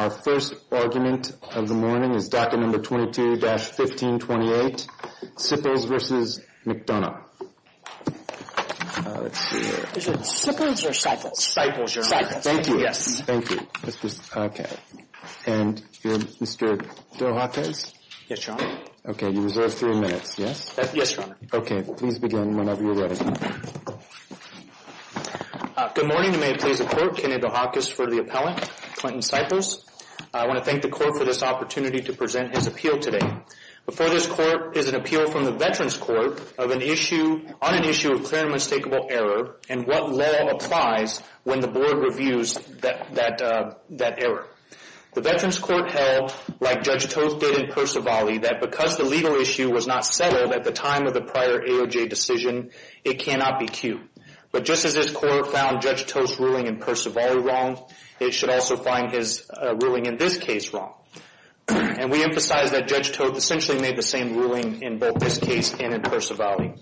Our first argument of the morning is docket number 22-1528, Sipples v. McDonough. Is it Sippers or Cyples? Cyples, Your Honor. Cyples. Thank you. Yes. Thank you. Okay. And Mr. DeHakis? Yes, Your Honor. Okay. You reserve three minutes. Yes? Yes, Your Honor. Okay. Please begin whenever you're ready. Good morning, and may it please the Court, Kennedy DeHakis for the appellant, Clinton Cyples. I want to thank the Court for this opportunity to present his appeal today. Before this Court is an appeal from the Veterans Court on an issue of clear and unmistakable error and what law applies when the Board reviews that error. The Veterans Court held, like Judge Toth did in Percivali, that because the legal issue was not settled at the time of the prior AOJ decision, it cannot be cued. But just as this Court found Judge Toth's ruling in Percivali wrong, it should also find his ruling in this case wrong. And we emphasize that Judge Toth essentially made the same ruling in both this case and in Percivali.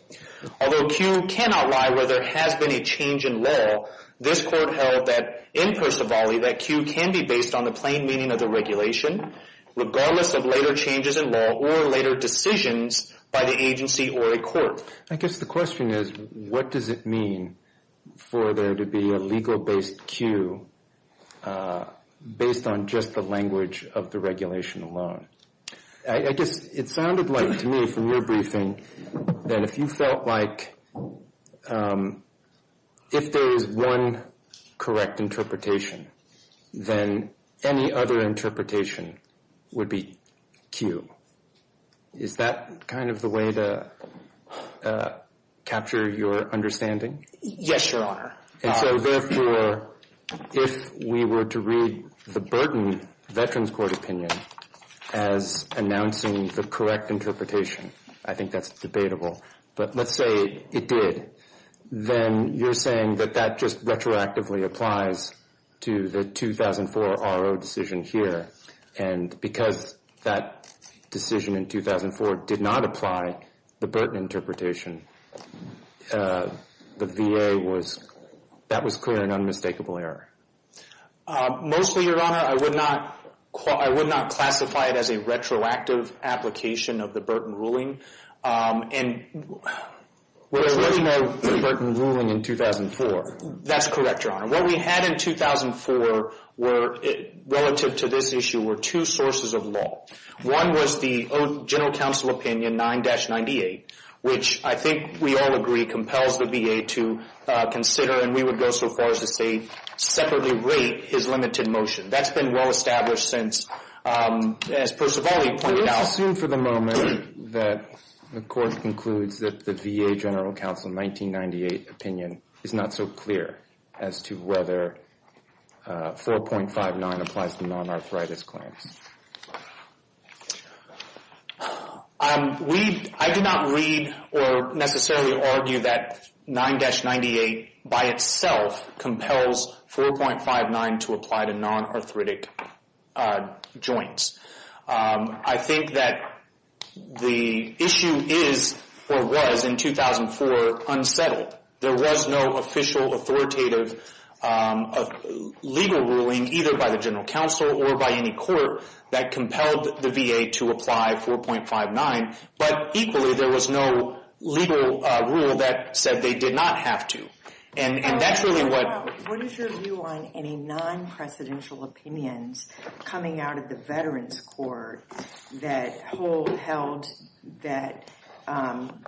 Although cue cannot lie where there has been a change in law, this Court held that in Percivali that cue can be based on the plain meaning of the regulation, regardless of later changes in law or later decisions by the agency or a court. I guess the question is, what does it mean for there to be a legal-based cue based on just the language of the regulation alone? I guess it sounded like to me from your briefing that if you felt like if there is one correct interpretation, then any other interpretation would be cue. Is that kind of the way to capture your understanding? Yes, Your Honor. And so therefore, if we were to read the Burton Veterans Court opinion as announcing the correct interpretation, I think that's debatable. But let's say it did. Then you're saying that that just retroactively applies to the 2004 RO decision here. And because that decision in 2004 did not apply the Burton interpretation, the VA was, that was clear and unmistakable error. Mostly, Your Honor, I would not classify it as a retroactive application of the Burton ruling. There was no Burton ruling in 2004. That's correct, Your Honor. What we had in 2004 relative to this issue were two sources of law. One was the general counsel opinion 9-98, which I think we all agree compels the VA to consider, and we would go so far as to say separately rate, his limited motion. That's been well established since, as Percivali pointed out. I assume for the moment that the court concludes that the VA general counsel 1998 opinion is not so clear as to whether 4.59 applies to non-arthritis claims. I did not read or necessarily argue that 9-98 by itself compels 4.59 to apply to non-arthritic joints. I think that the issue is or was in 2004 unsettled. There was no official authoritative legal ruling either by the general counsel or by any court that compelled the VA to apply 4.59, but equally there was no legal rule that said they did not have to. And that's really what... that held that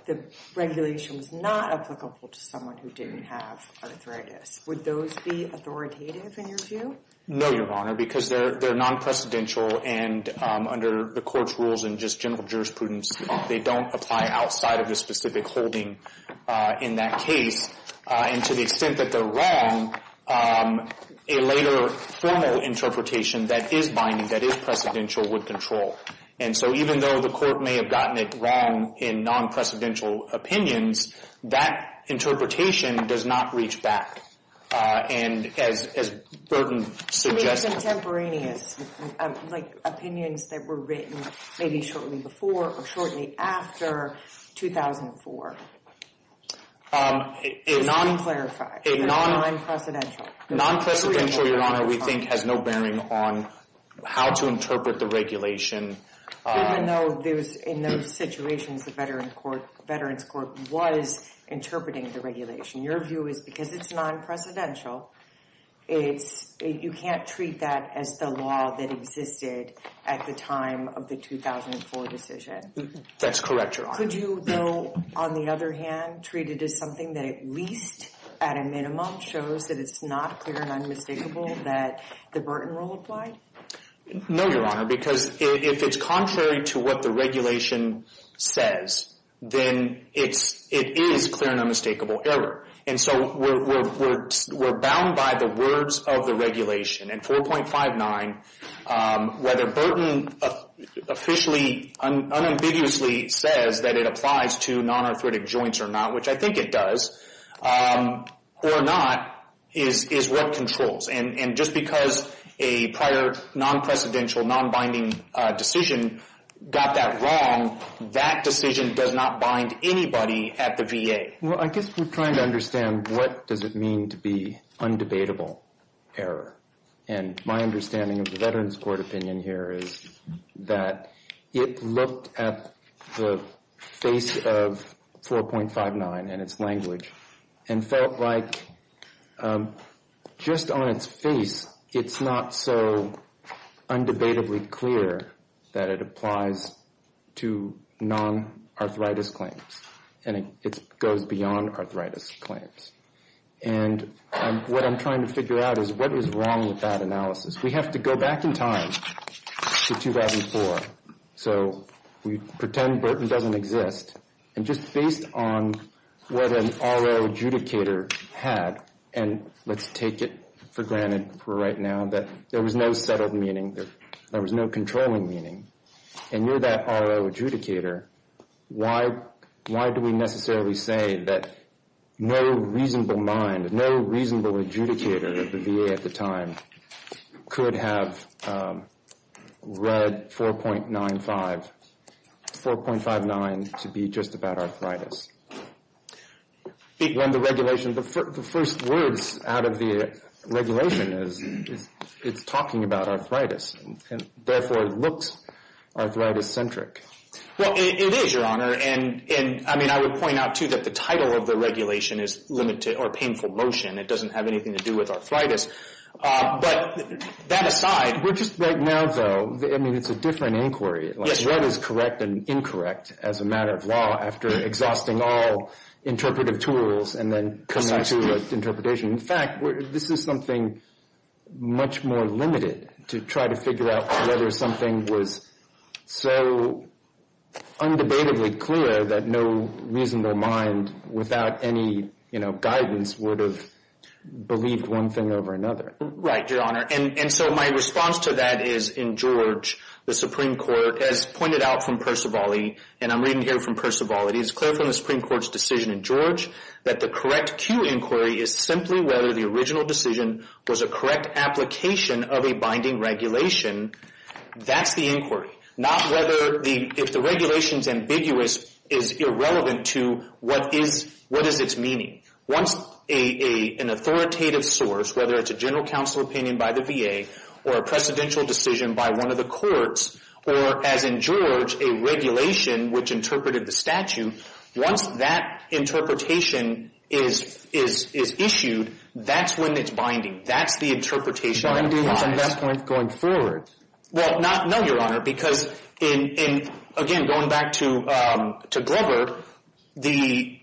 the regulation was not applicable to someone who didn't have arthritis. Would those be authoritative in your view? No, Your Honor, because they're non-precedential, and under the court's rules and just general jurisprudence, they don't apply outside of the specific holding in that case. And to the extent that they're wrong, a later formal interpretation that is binding, that is precedential, would control. And so even though the court may have gotten it wrong in non-precedential opinions, that interpretation does not reach back. And as Burton suggested... So they're contemporaneous, like opinions that were written maybe shortly before or shortly after 2004. Non-clarified. Non-precedential. Non-precedential, Your Honor, we think has no bearing on how to interpret the regulation. Even though in those situations the Veterans Court was interpreting the regulation. Your view is because it's non-precedential, you can't treat that as the law that existed at the time of the 2004 decision. That's correct, Your Honor. Could you, though, on the other hand, treat it as something that at least at a minimum shows that it's not clear and unmistakable that the Burton rule applied? No, Your Honor, because if it's contrary to what the regulation says, then it is clear and unmistakable error. And so we're bound by the words of the regulation. And 4.59, whether Burton officially unambiguously says that it applies to non-arthritic joints or not, which I think it does, or not, is what controls. And just because a prior non-precedential, non-binding decision got that wrong, that decision does not bind anybody at the VA. Well, I guess we're trying to understand what does it mean to be undebatable error. And my understanding of the Veterans Court opinion here is that it looked at the face of 4.59 and its language and felt like just on its face it's not so undebatably clear that it applies to non-arthritis claims. And it goes beyond arthritis claims. And what I'm trying to figure out is what is wrong with that analysis. We have to go back in time to 2004. So we pretend Burton doesn't exist. And just based on what an RO adjudicator had, and let's take it for granted for right now, that there was no settled meaning, there was no controlling meaning. And you're that RO adjudicator. Why do we necessarily say that no reasonable mind, no reasonable adjudicator at the VA at the time could have read 4.95, 4.59 to be just about arthritis? When the regulation, the first words out of the regulation is it's talking about arthritis. And therefore it looks arthritis-centric. Well, it is, Your Honor. And I mean, I would point out, too, that the title of the regulation is limited or painful motion. It doesn't have anything to do with arthritis. But that aside. Well, just right now, though, I mean, it's a different inquiry. Like what is correct and incorrect as a matter of law after exhausting all interpretive tools and then coming to an interpretation. In fact, this is something much more limited to try to figure out whether something was so undebatably clear that no reasonable mind without any guidance would have believed one thing over another. Right, Your Honor. And so my response to that is, in George, the Supreme Court, as pointed out from Percivali, and I'm reading here from Percivali, it's clear from the Supreme Court's decision in George that the correct Q inquiry is simply whether the original decision was a correct application of a binding regulation. That's the inquiry. Not whether the regulations ambiguous is irrelevant to what is its meaning. Once an authoritative source, whether it's a general counsel opinion by the VA or a precedential decision by one of the courts or, as in George, a regulation, which interpreted the statute, once that interpretation is issued, that's when it's binding. That's the interpretation. So I'm doing some misconduct going forward. Well, no, Your Honor, because in, again, going back to Glover, the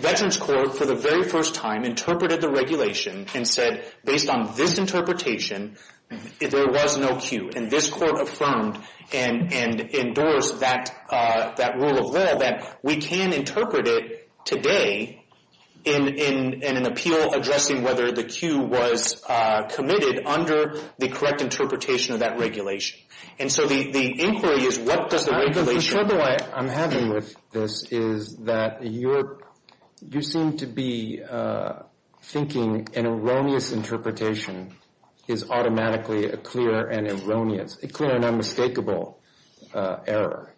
Veterans Court for the very first time interpreted the regulation and said based on this interpretation, there was no Q. And this Court affirmed and endorsed that rule of law that we can interpret it today in an appeal addressing whether the Q was committed under the correct interpretation of that regulation. And so the inquiry is what does the regulation do? The trouble I'm having with this is that you seem to be thinking an erroneous interpretation is automatically a clear and erroneous, a clear and unmistakable error.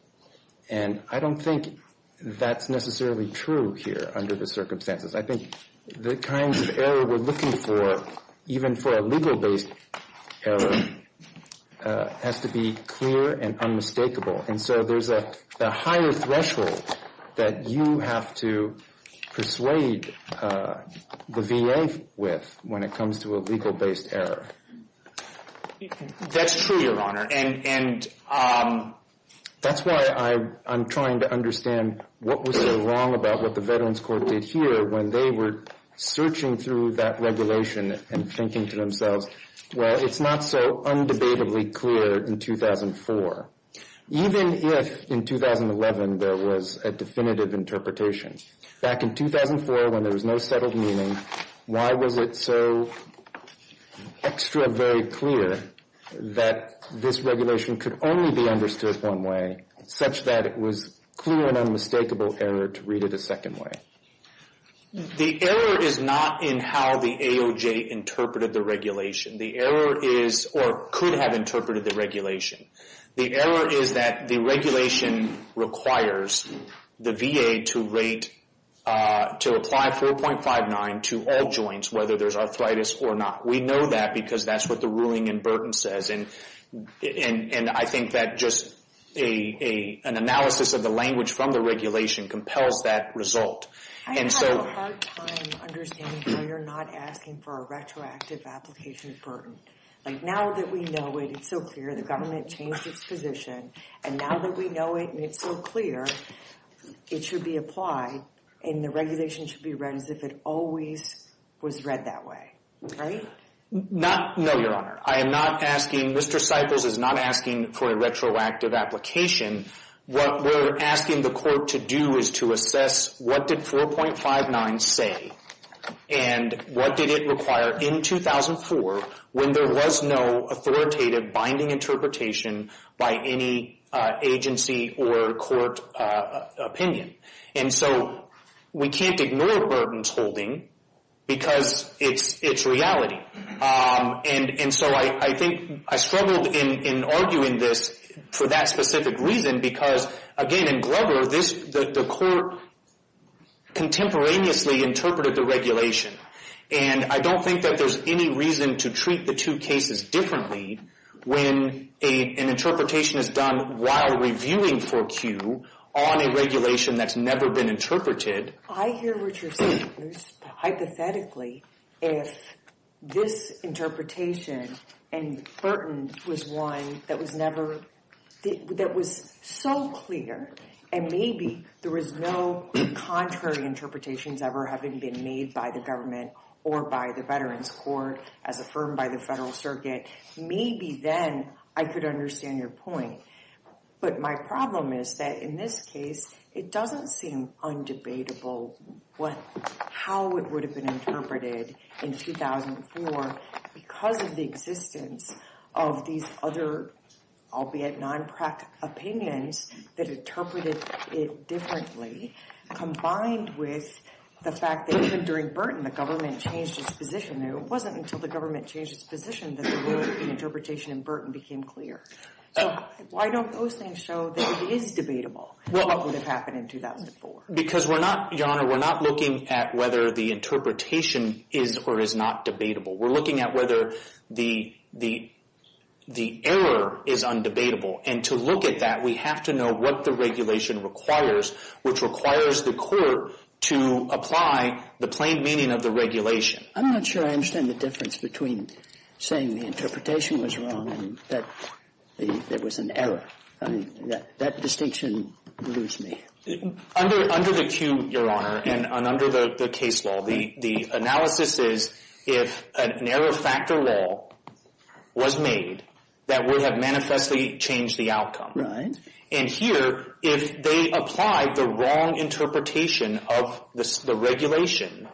And I don't think that's necessarily true here under the circumstances. I think the kinds of error we're looking for, even for a legal-based error, has to be clear and unmistakable. And so there's a higher threshold that you have to persuade the VA with when it comes to a legal-based error. That's true, Your Honor. And that's why I'm trying to understand what was so wrong about what the Veterans Court did here when they were searching through that regulation and thinking to themselves, well, it's not so undebatably clear in 2004. Even if in 2011 there was a definitive interpretation, back in 2004 when there was no settled meaning, why was it so extra very clear that this regulation could only be understood one way such that it was clear and unmistakable error to read it a second way? The error is not in how the AOJ interpreted the regulation. The error is or could have interpreted the regulation. The error is that the regulation requires the VA to rate, to apply 4.59 to all joints whether there's arthritis or not. We know that because that's what the ruling in Burton says. And I think that just an analysis of the language from the regulation compels that result. I have a hard time understanding why you're not asking for a retroactive application at Burton. Like now that we know it, it's so clear, the government changed its position. And now that we know it and it's so clear, it should be applied and the regulation should be read as if it always was read that way. Right? Not, no, Your Honor. I am not asking, Mr. Cyples is not asking for a retroactive application. What we're asking the court to do is to assess what did 4.59 say and what did it require in 2004 when there was no authoritative binding interpretation by any agency or court opinion. And so we can't ignore Burton's holding because it's reality. And so I think I struggled in arguing this for that specific reason because, again, in Grubber, the court contemporaneously interpreted the regulation. And I don't think that there's any reason to treat the two cases differently when an interpretation is done while reviewing for Q on a regulation that's never been interpreted. I hear what you're saying. Hypothetically, if this interpretation and Burton's was one that was so clear and maybe there was no contrary interpretations ever having been made by the government or by the Veterans Court as affirmed by the Federal Circuit, maybe then I could understand your point. But my problem is that in this case, it doesn't seem undebatable how it would have been interpreted in 2004 because of the existence of these other, albeit non-PRAC, opinions that interpreted it differently combined with the fact that even during Burton, the government changed its position. It wasn't until the government changed its position that the interpretation in Burton became clear. So why don't those things show that it is debatable what would have happened in 2004? Because, Your Honor, we're not looking at whether the interpretation is or is not debatable. We're looking at whether the error is undebatable. And to look at that, we have to know what the regulation requires, which requires the court to apply the plain meaning of the regulation. I'm not sure I understand the difference between saying the interpretation was wrong and that there was an error. I mean, that distinction leaves me. Under the cue, Your Honor, and under the case law, the analysis is if an error factor law was made that would have manifestly changed the outcome. Right. And here, if they applied the wrong interpretation of the regulation,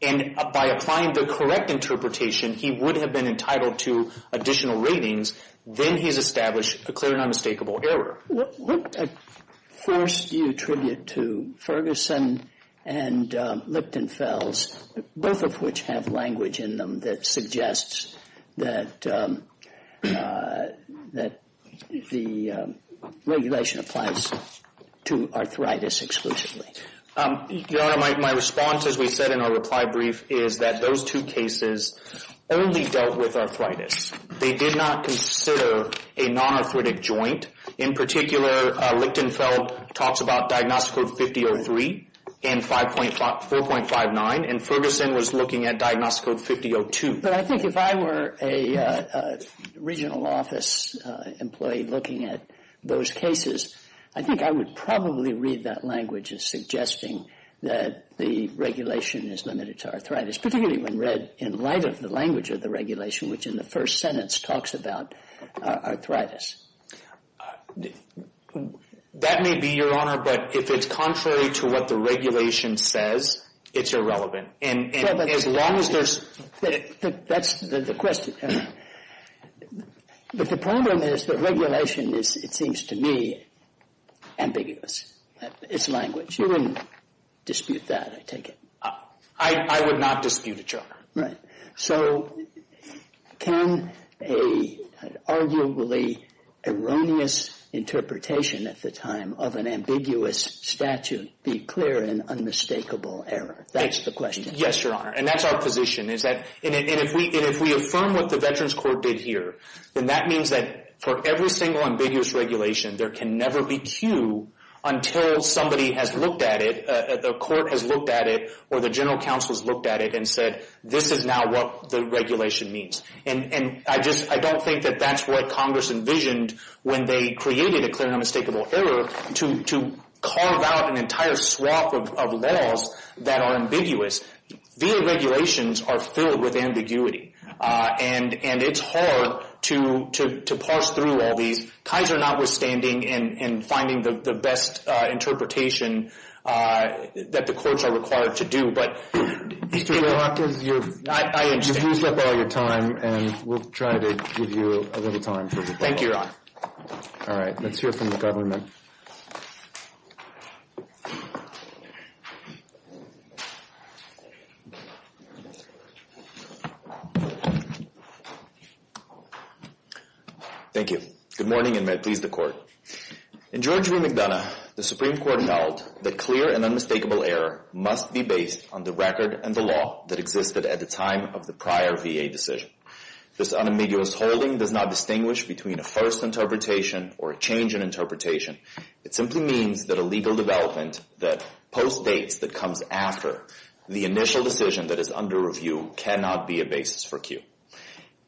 and by applying the correct interpretation, he would have been entitled to additional ratings. Then he's established a clear and unmistakable error. What force do you attribute to Ferguson and Lipton-Fells, both of which have language in them that suggests that the regulation applies to arthritis exclusively? Your Honor, my response, as we said in our reply brief, is that those two cases only dealt with arthritis. They did not consider a non-arthritic joint. In particular, Lipton-Fells talks about Diagnostic Code 5003 and 4.59, and Ferguson was looking at Diagnostic Code 5002. But I think if I were a regional office employee looking at those cases, I think I would probably read that language as suggesting that the regulation is limited to arthritis, particularly when read in light of the language of the regulation, which in the first sentence talks about arthritis. That may be, Your Honor, but if it's contrary to what the regulation says, it's irrelevant. And as long as there's... That's the question. But the problem is that regulation is, it seems to me, ambiguous. It's language. You wouldn't dispute that, I take it. I would not dispute it, Your Honor. Right. So can an arguably erroneous interpretation at the time of an ambiguous statute be clear in unmistakable error? That's the question. Yes, Your Honor, and that's our position. And if we affirm what the Veterans Court did here, then that means that for every single ambiguous regulation, there can never be cue until somebody has looked at it, a court has looked at it, or the general counsel has looked at it and said, this is now what the regulation means. And I don't think that that's what Congress envisioned when they created a clear and unmistakable error to carve out an entire swath of laws that are ambiguous. VA regulations are filled with ambiguity. And it's hard to parse through all these, Kaiser notwithstanding, in finding the best interpretation that the courts are required to do. But... Mr. Warhawk, you've used up all your time, and we'll try to give you a little time. Thank you, Your Honor. All right, let's hear from the government. Thank you. Good morning, and may it please the Court. In George v. McDonough, the Supreme Court held that clear and unmistakable error must be based on the record and the law that existed at the time of the prior VA decision. This unambiguous holding does not distinguish between a first interpretation or a change in interpretation. It simply means that a legal development that postdates, that comes after, the initial decision that is under review cannot be a basis for Q.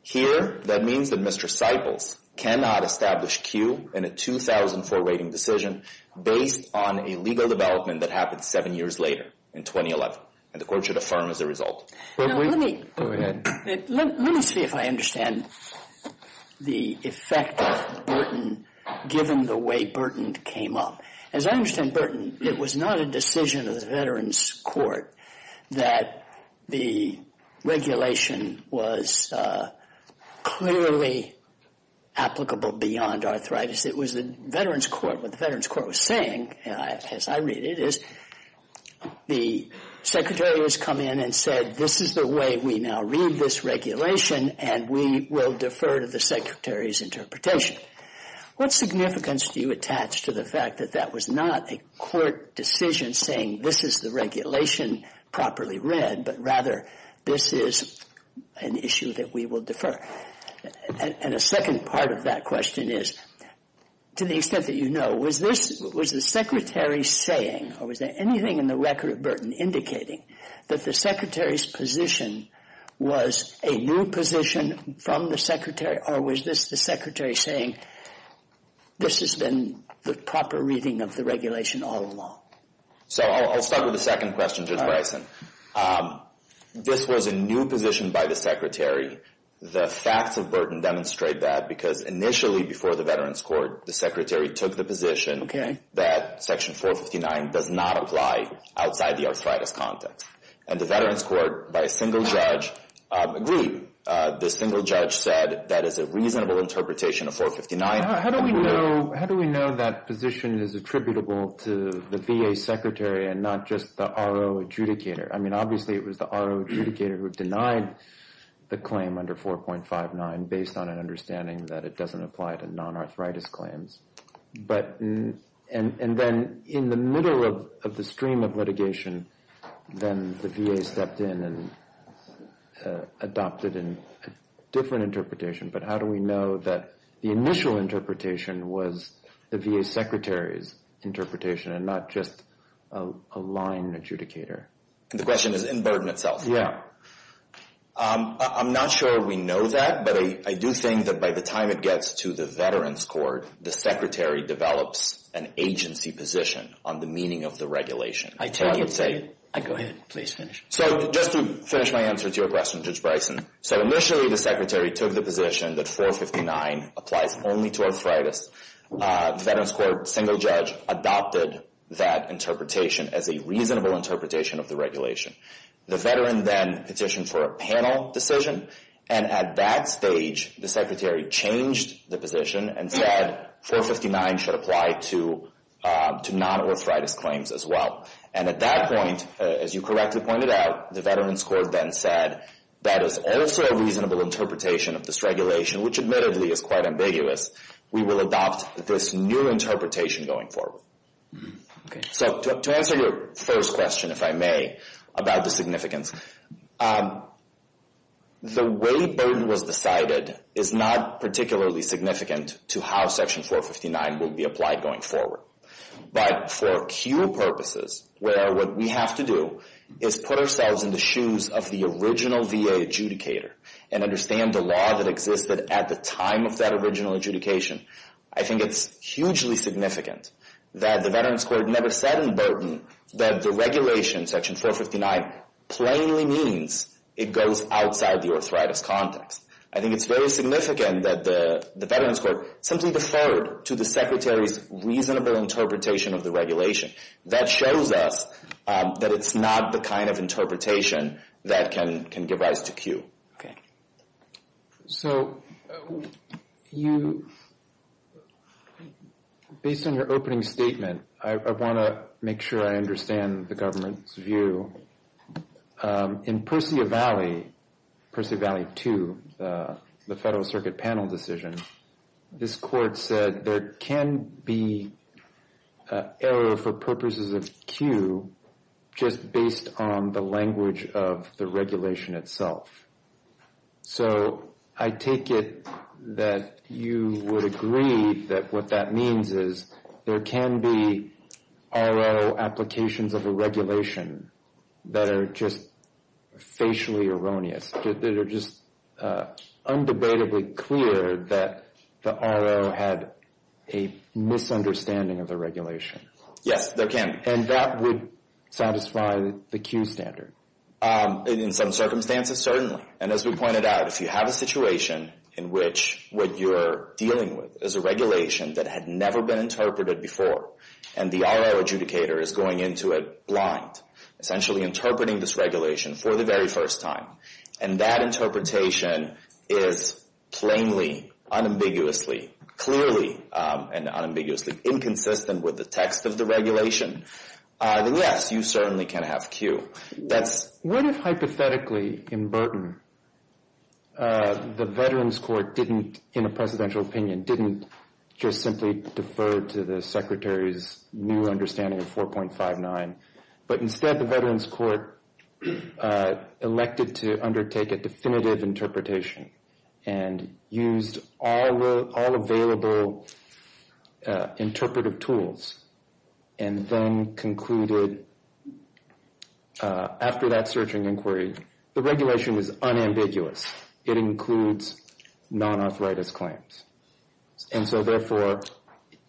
Here, that means that Mr. Siples cannot establish Q in a 2004 rating decision based on a legal development that happened seven years later, in 2011. And the Court should affirm as a result. Go ahead. Let me see if I understand the effect of Burton, given the way Burton came up. As I understand Burton, it was not a decision of the Veterans Court that the regulation was clearly applicable beyond arthritis. It was the Veterans Court, what the Veterans Court was saying, as I read it, the Secretary has come in and said this is the way we now read this regulation and we will defer to the Secretary's interpretation. What significance do you attach to the fact that that was not a Court decision saying this is the regulation properly read, but rather this is an issue that we will defer? And a second part of that question is, to the extent that you know, was the Secretary saying or was there anything in the record of Burton indicating that the Secretary's position was a new position from the Secretary or was this the Secretary saying this has been the proper reading of the regulation all along? So I'll start with the second question, Judge Bryson. This was a new position by the Secretary. The facts of Burton demonstrate that because initially before the Veterans Court, the Secretary took the position that Section 459 does not apply outside the arthritis context. And the Veterans Court, by a single judge, agreed. The single judge said that is a reasonable interpretation of 459. How do we know that position is attributable to the VA Secretary and not just the RO adjudicator? I mean, obviously it was the RO adjudicator who denied the claim under 4.59 based on an understanding that it doesn't apply to non-arthritis claims. And then in the middle of the stream of litigation, then the VA stepped in and adopted a different interpretation. But how do we know that the initial interpretation was the VA Secretary's interpretation and not just a line adjudicator? The question is in Burton itself. Yeah. I'm not sure we know that, but I do think that by the time it gets to the Veterans Court, the Secretary develops an agency position on the meaning of the regulation. I take it. Go ahead, please finish. So just to finish my answer to your question, Judge Bryson, so initially the Secretary took the position that 459 applies only to arthritis. The Veterans Court single judge adopted that interpretation as a reasonable interpretation of the regulation. The Veteran then petitioned for a panel decision, and at that stage the Secretary changed the position and said 459 should apply to non-arthritis claims as well. And at that point, as you correctly pointed out, the Veterans Court then said that is also a reasonable interpretation of this regulation, which admittedly is quite ambiguous. We will adopt this new interpretation going forward. So to answer your first question, if I may, about the significance, the way Burton was decided is not particularly significant to how Section 459 will be applied going forward. But for acute purposes, where what we have to do is put ourselves in the shoes of the original VA adjudicator and understand the law that existed at the time of that original adjudication, I think it's hugely significant that the Veterans Court never said in Burton that the regulation, Section 459, plainly means it goes outside the arthritis context. I think it's very significant that the Veterans Court simply deferred to the Secretary's reasonable interpretation of the regulation. That shows us that it's not the kind of interpretation that can give rise to Q. Okay. So you, based on your opening statement, I want to make sure I understand the government's view. In Persevalley, Persevalley 2, the Federal Circuit panel decision, this court said there can be error for purposes of Q just based on the language of the regulation itself. So I take it that you would agree that what that means is there can be RO applications of a regulation that are just facially erroneous, that are just undebatably clear that the RO had a misunderstanding of the regulation. Yes, there can be. And that would satisfy the Q standard? In some circumstances, certainly. And as we pointed out, if you have a situation in which what you're dealing with is a regulation that had never been interpreted before and the RO adjudicator is going into it blind, essentially interpreting this regulation for the very first time, and that interpretation is plainly, unambiguously, clearly and unambiguously inconsistent with the text of the regulation, then yes, you certainly can have Q. What if hypothetically, in Burton, the Veterans Court didn't, in a presidential opinion, didn't just simply defer to the Secretary's new understanding of 4.59, but instead the Veterans Court elected to undertake a definitive interpretation and used all available interpretive tools and then concluded, after that searching inquiry, the regulation is unambiguous. It includes non-arthritis claims. And so therefore,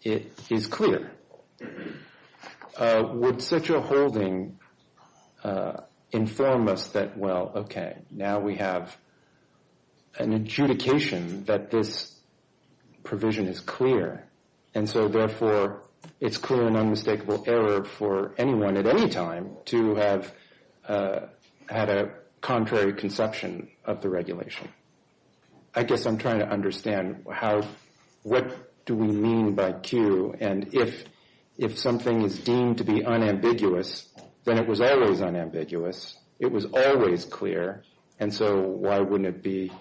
it is clear. Would such a holding inform us that, well, okay, now we have an adjudication that this provision is clear. And so therefore, it's clear and unmistakable error for anyone, at any time, to have had a contrary conception of the regulation. I guess I'm trying to understand what do we mean by Q and if something is deemed to be unambiguous, then it was always unambiguous. It was always clear. And so why wouldn't it be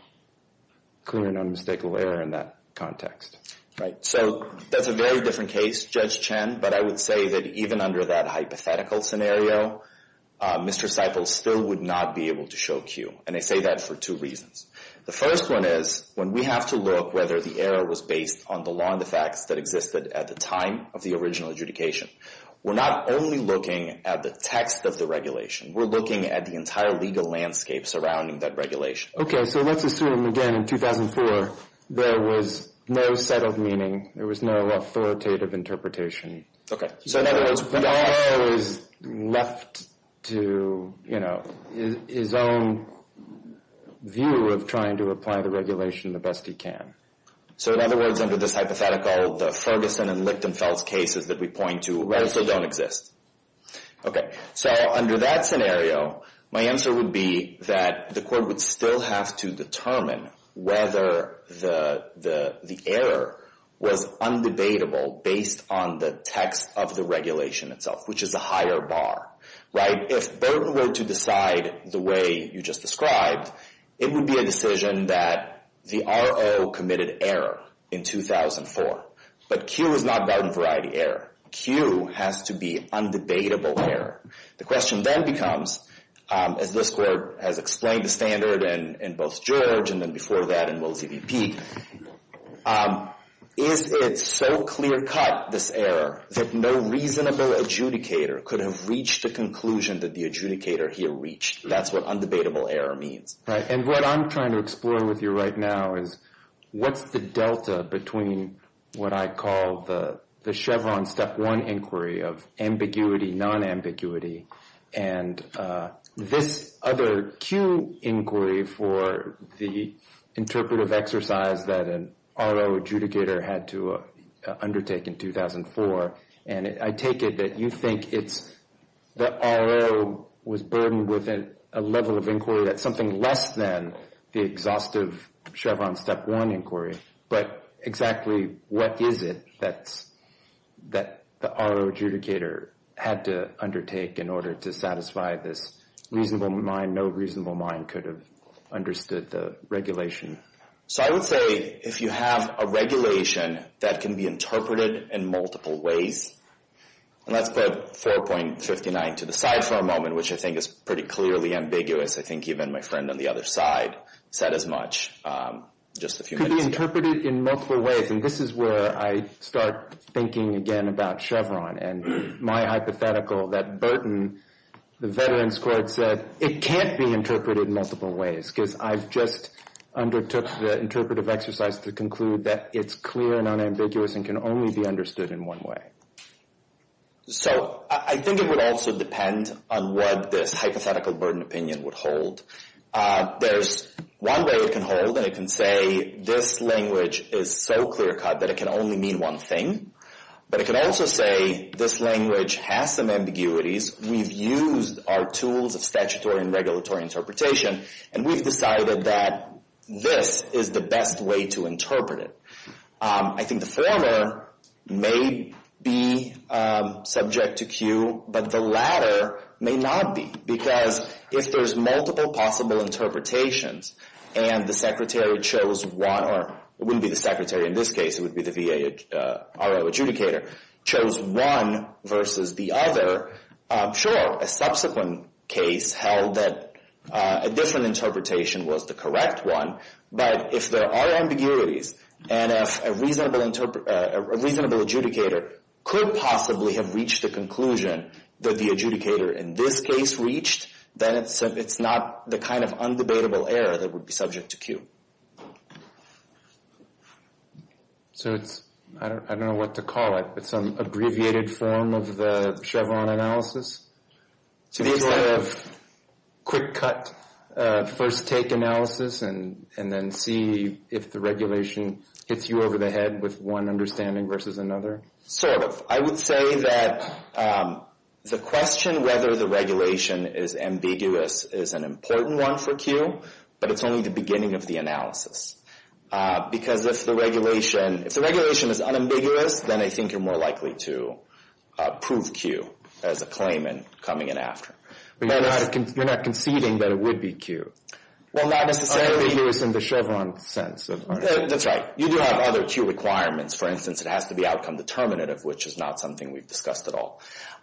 clear and unmistakable error in that context? Right. So that's a very different case, Judge Chen, but I would say that even under that hypothetical scenario, Mr. Seiple still would not be able to show Q. And I say that for two reasons. The first one is when we have to look whether the error was based on the law and the facts that existed at the time of the original adjudication. We're not only looking at the text of the regulation. We're looking at the entire legal landscape surrounding that regulation. Okay. So let's assume, again, in 2004, there was no settled meaning. There was no authoritative interpretation. Okay. So in other words, the lawyer was left to, you know, his own view of trying to apply the regulation the best he can. So in other words, under this hypothetical, the Ferguson and Lichtenfeld cases that we point to also don't exist. Okay. So under that scenario, my answer would be that the court would still have to determine whether the error was undebatable based on the text of the regulation itself, which is a higher bar. Right? If Burton were to decide the way you just described, it would be a decision that the RO committed error in 2004. But Q is not garden variety error. Q has to be undebatable error. The question then becomes, as this court has explained the standard in both George and then before that in Will TVP, is it so clear-cut, this error, that no reasonable adjudicator could have reached the conclusion that the adjudicator here reached? That's what undebatable error means. Right. And what I'm trying to explore with you right now is what's the delta between what I call the Chevron Step 1 inquiry of ambiguity, non-ambiguity, and this other Q inquiry for the interpretive exercise that an RO adjudicator had to undertake in 2004. And I take it that you think it's the RO was burdened with a level of inquiry that's something less than the exhaustive Chevron Step 1 inquiry. But exactly what is it that the RO adjudicator had to undertake in order to satisfy this reasonable mind, no reasonable mind could have understood the regulation? So I would say if you have a regulation that can be interpreted in multiple ways, and let's put 4.59 to the side for a moment, which I think is pretty clearly ambiguous. I think even my friend on the other side said as much. Could be interpreted in multiple ways. And this is where I start thinking again about Chevron and my hypothetical that Burton, the veterans court said it can't be interpreted in multiple ways because I've just undertook the interpretive exercise to conclude that it's clear and unambiguous and can only be understood in one way. So I think it would also depend on what this hypothetical burden opinion would hold. There's one way it can hold, and it can say this language is so clear cut that it can only mean one thing. But it can also say this language has some ambiguities. We've used our tools of statutory and regulatory interpretation, and we've decided that this is the best way to interpret it. I think the former may be subject to Q, but the latter may not be. Because if there's multiple possible interpretations and the secretary chose one, or it wouldn't be the secretary in this case, it would be the VA RO adjudicator, chose one versus the other, sure, a subsequent case held that a different interpretation was the correct one. But if there are ambiguities and if a reasonable adjudicator could possibly have reached the conclusion that the adjudicator in this case reached, then it's not the kind of undebatable error that would be subject to Q. So it's, I don't know what to call it, but some abbreviated form of the Chevron analysis? Sort of quick cut first take analysis and then see if the regulation hits you over the head with one understanding versus another? Sort of. I would say that the question whether the regulation is ambiguous is an important one for Q, but it's only the beginning of the analysis. Because if the regulation is unambiguous, then I think you're more likely to prove Q as a claimant coming in after. But you're not conceding that it would be Q? Well, not necessarily. Okay, using the Chevron sense of understanding. That's right. You do have other Q requirements. For instance, it has to be outcome determinative, which is not something we've discussed at all.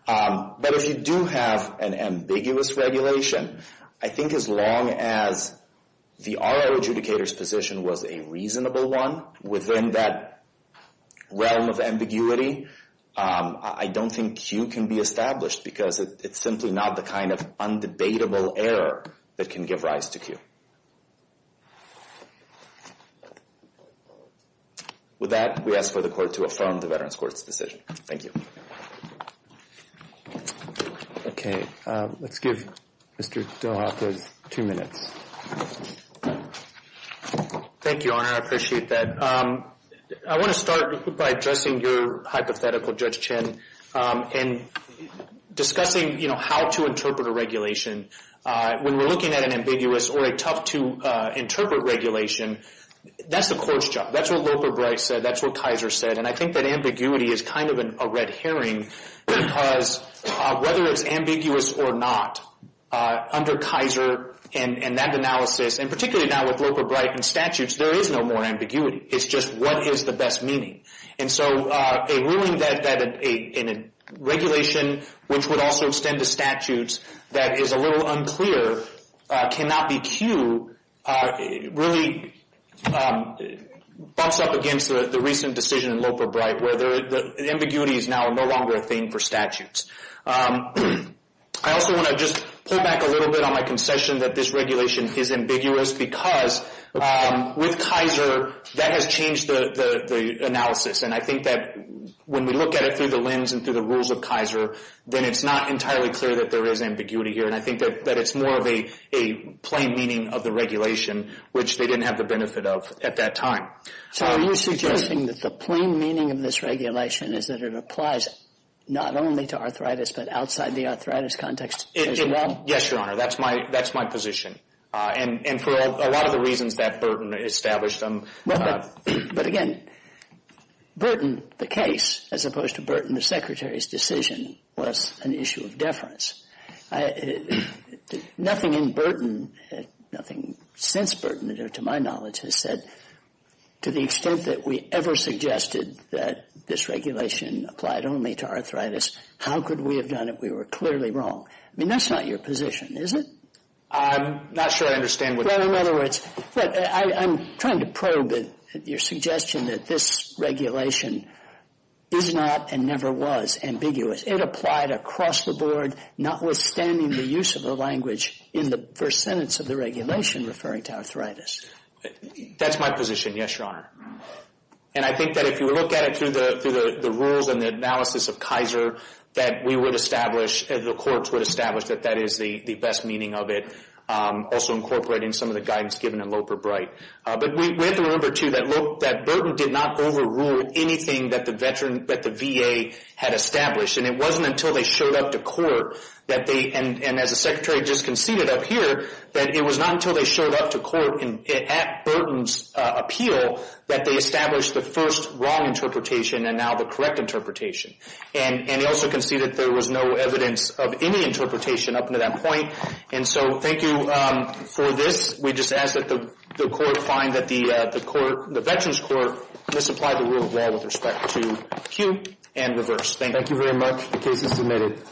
But if you do have an ambiguous regulation, I think as long as the RO adjudicator's position was a reasonable one within that realm of ambiguity, I don't think Q can be established because it's simply not the kind of undebatable error that can give rise to Q. With that, we ask for the Court to affirm the Veterans Court's decision. Thank you. Okay. Let's give Mr. DeHoff his two minutes. Thank you, Your Honor. I appreciate that. I want to start by addressing your hypothetical, Judge Chin, in discussing how to interpret a regulation. When we're looking at an ambiguous or a tough-to-interpret regulation, that's the Court's job. That's what Loper Bright said. That's what Kaiser said. And I think that ambiguity is kind of a red herring because whether it's ambiguous or not, under Kaiser and that analysis, and particularly now with Loper Bright and statutes, there is no more ambiguity. It's just what is the best meaning. And so a ruling that a regulation, which would also extend to statutes, that is a little unclear cannot be Q really bumps up against the recent decision in Loper Bright, where the ambiguity is now no longer a thing for statutes. I also want to just pull back a little bit on my concession that this regulation is ambiguous because with Kaiser, that has changed the analysis. And I think that when we look at it through the lens and through the rules of Kaiser, then it's not entirely clear that there is ambiguity here. And I think that it's more of a plain meaning of the regulation, which they didn't have the benefit of at that time. So are you suggesting that the plain meaning of this regulation is that it applies not only to arthritis but outside the arthritis context as well? Yes, Your Honor. That's my position. And for a lot of the reasons that Burton established them. But again, Burton, the case, as opposed to Burton, the Secretary's decision, was an issue of deference. Nothing in Burton, nothing since Burton to my knowledge, has said to the extent that we ever suggested that this regulation applied only to arthritis, how could we have done it? We were clearly wrong. I mean, that's not your position, is it? I'm not sure I understand what you mean. Well, in other words, I'm trying to probe your suggestion that this regulation is not and never was ambiguous. It applied across the board, notwithstanding the use of the language in the first sentence of the regulation referring to arthritis. That's my position, yes, Your Honor. And I think that if you look at it through the rules and the analysis of Kaiser, that we would establish, the courts would establish that that is the best meaning of it, also incorporating some of the guidance given in Loper-Bright. But we have to remember, too, that Burton did not overrule anything that the VA had established. And it wasn't until they showed up to court, and as the Secretary just conceded up here, that it was not until they showed up to court at Burton's appeal that they established the first wrong interpretation and now the correct interpretation. And he also conceded there was no evidence of any interpretation up until that point. And so thank you for this. We just ask that the court find that the Veterans Court misapplied the rule of law with respect to cue and reverse. Thank you. Thank you very much. The case is submitted.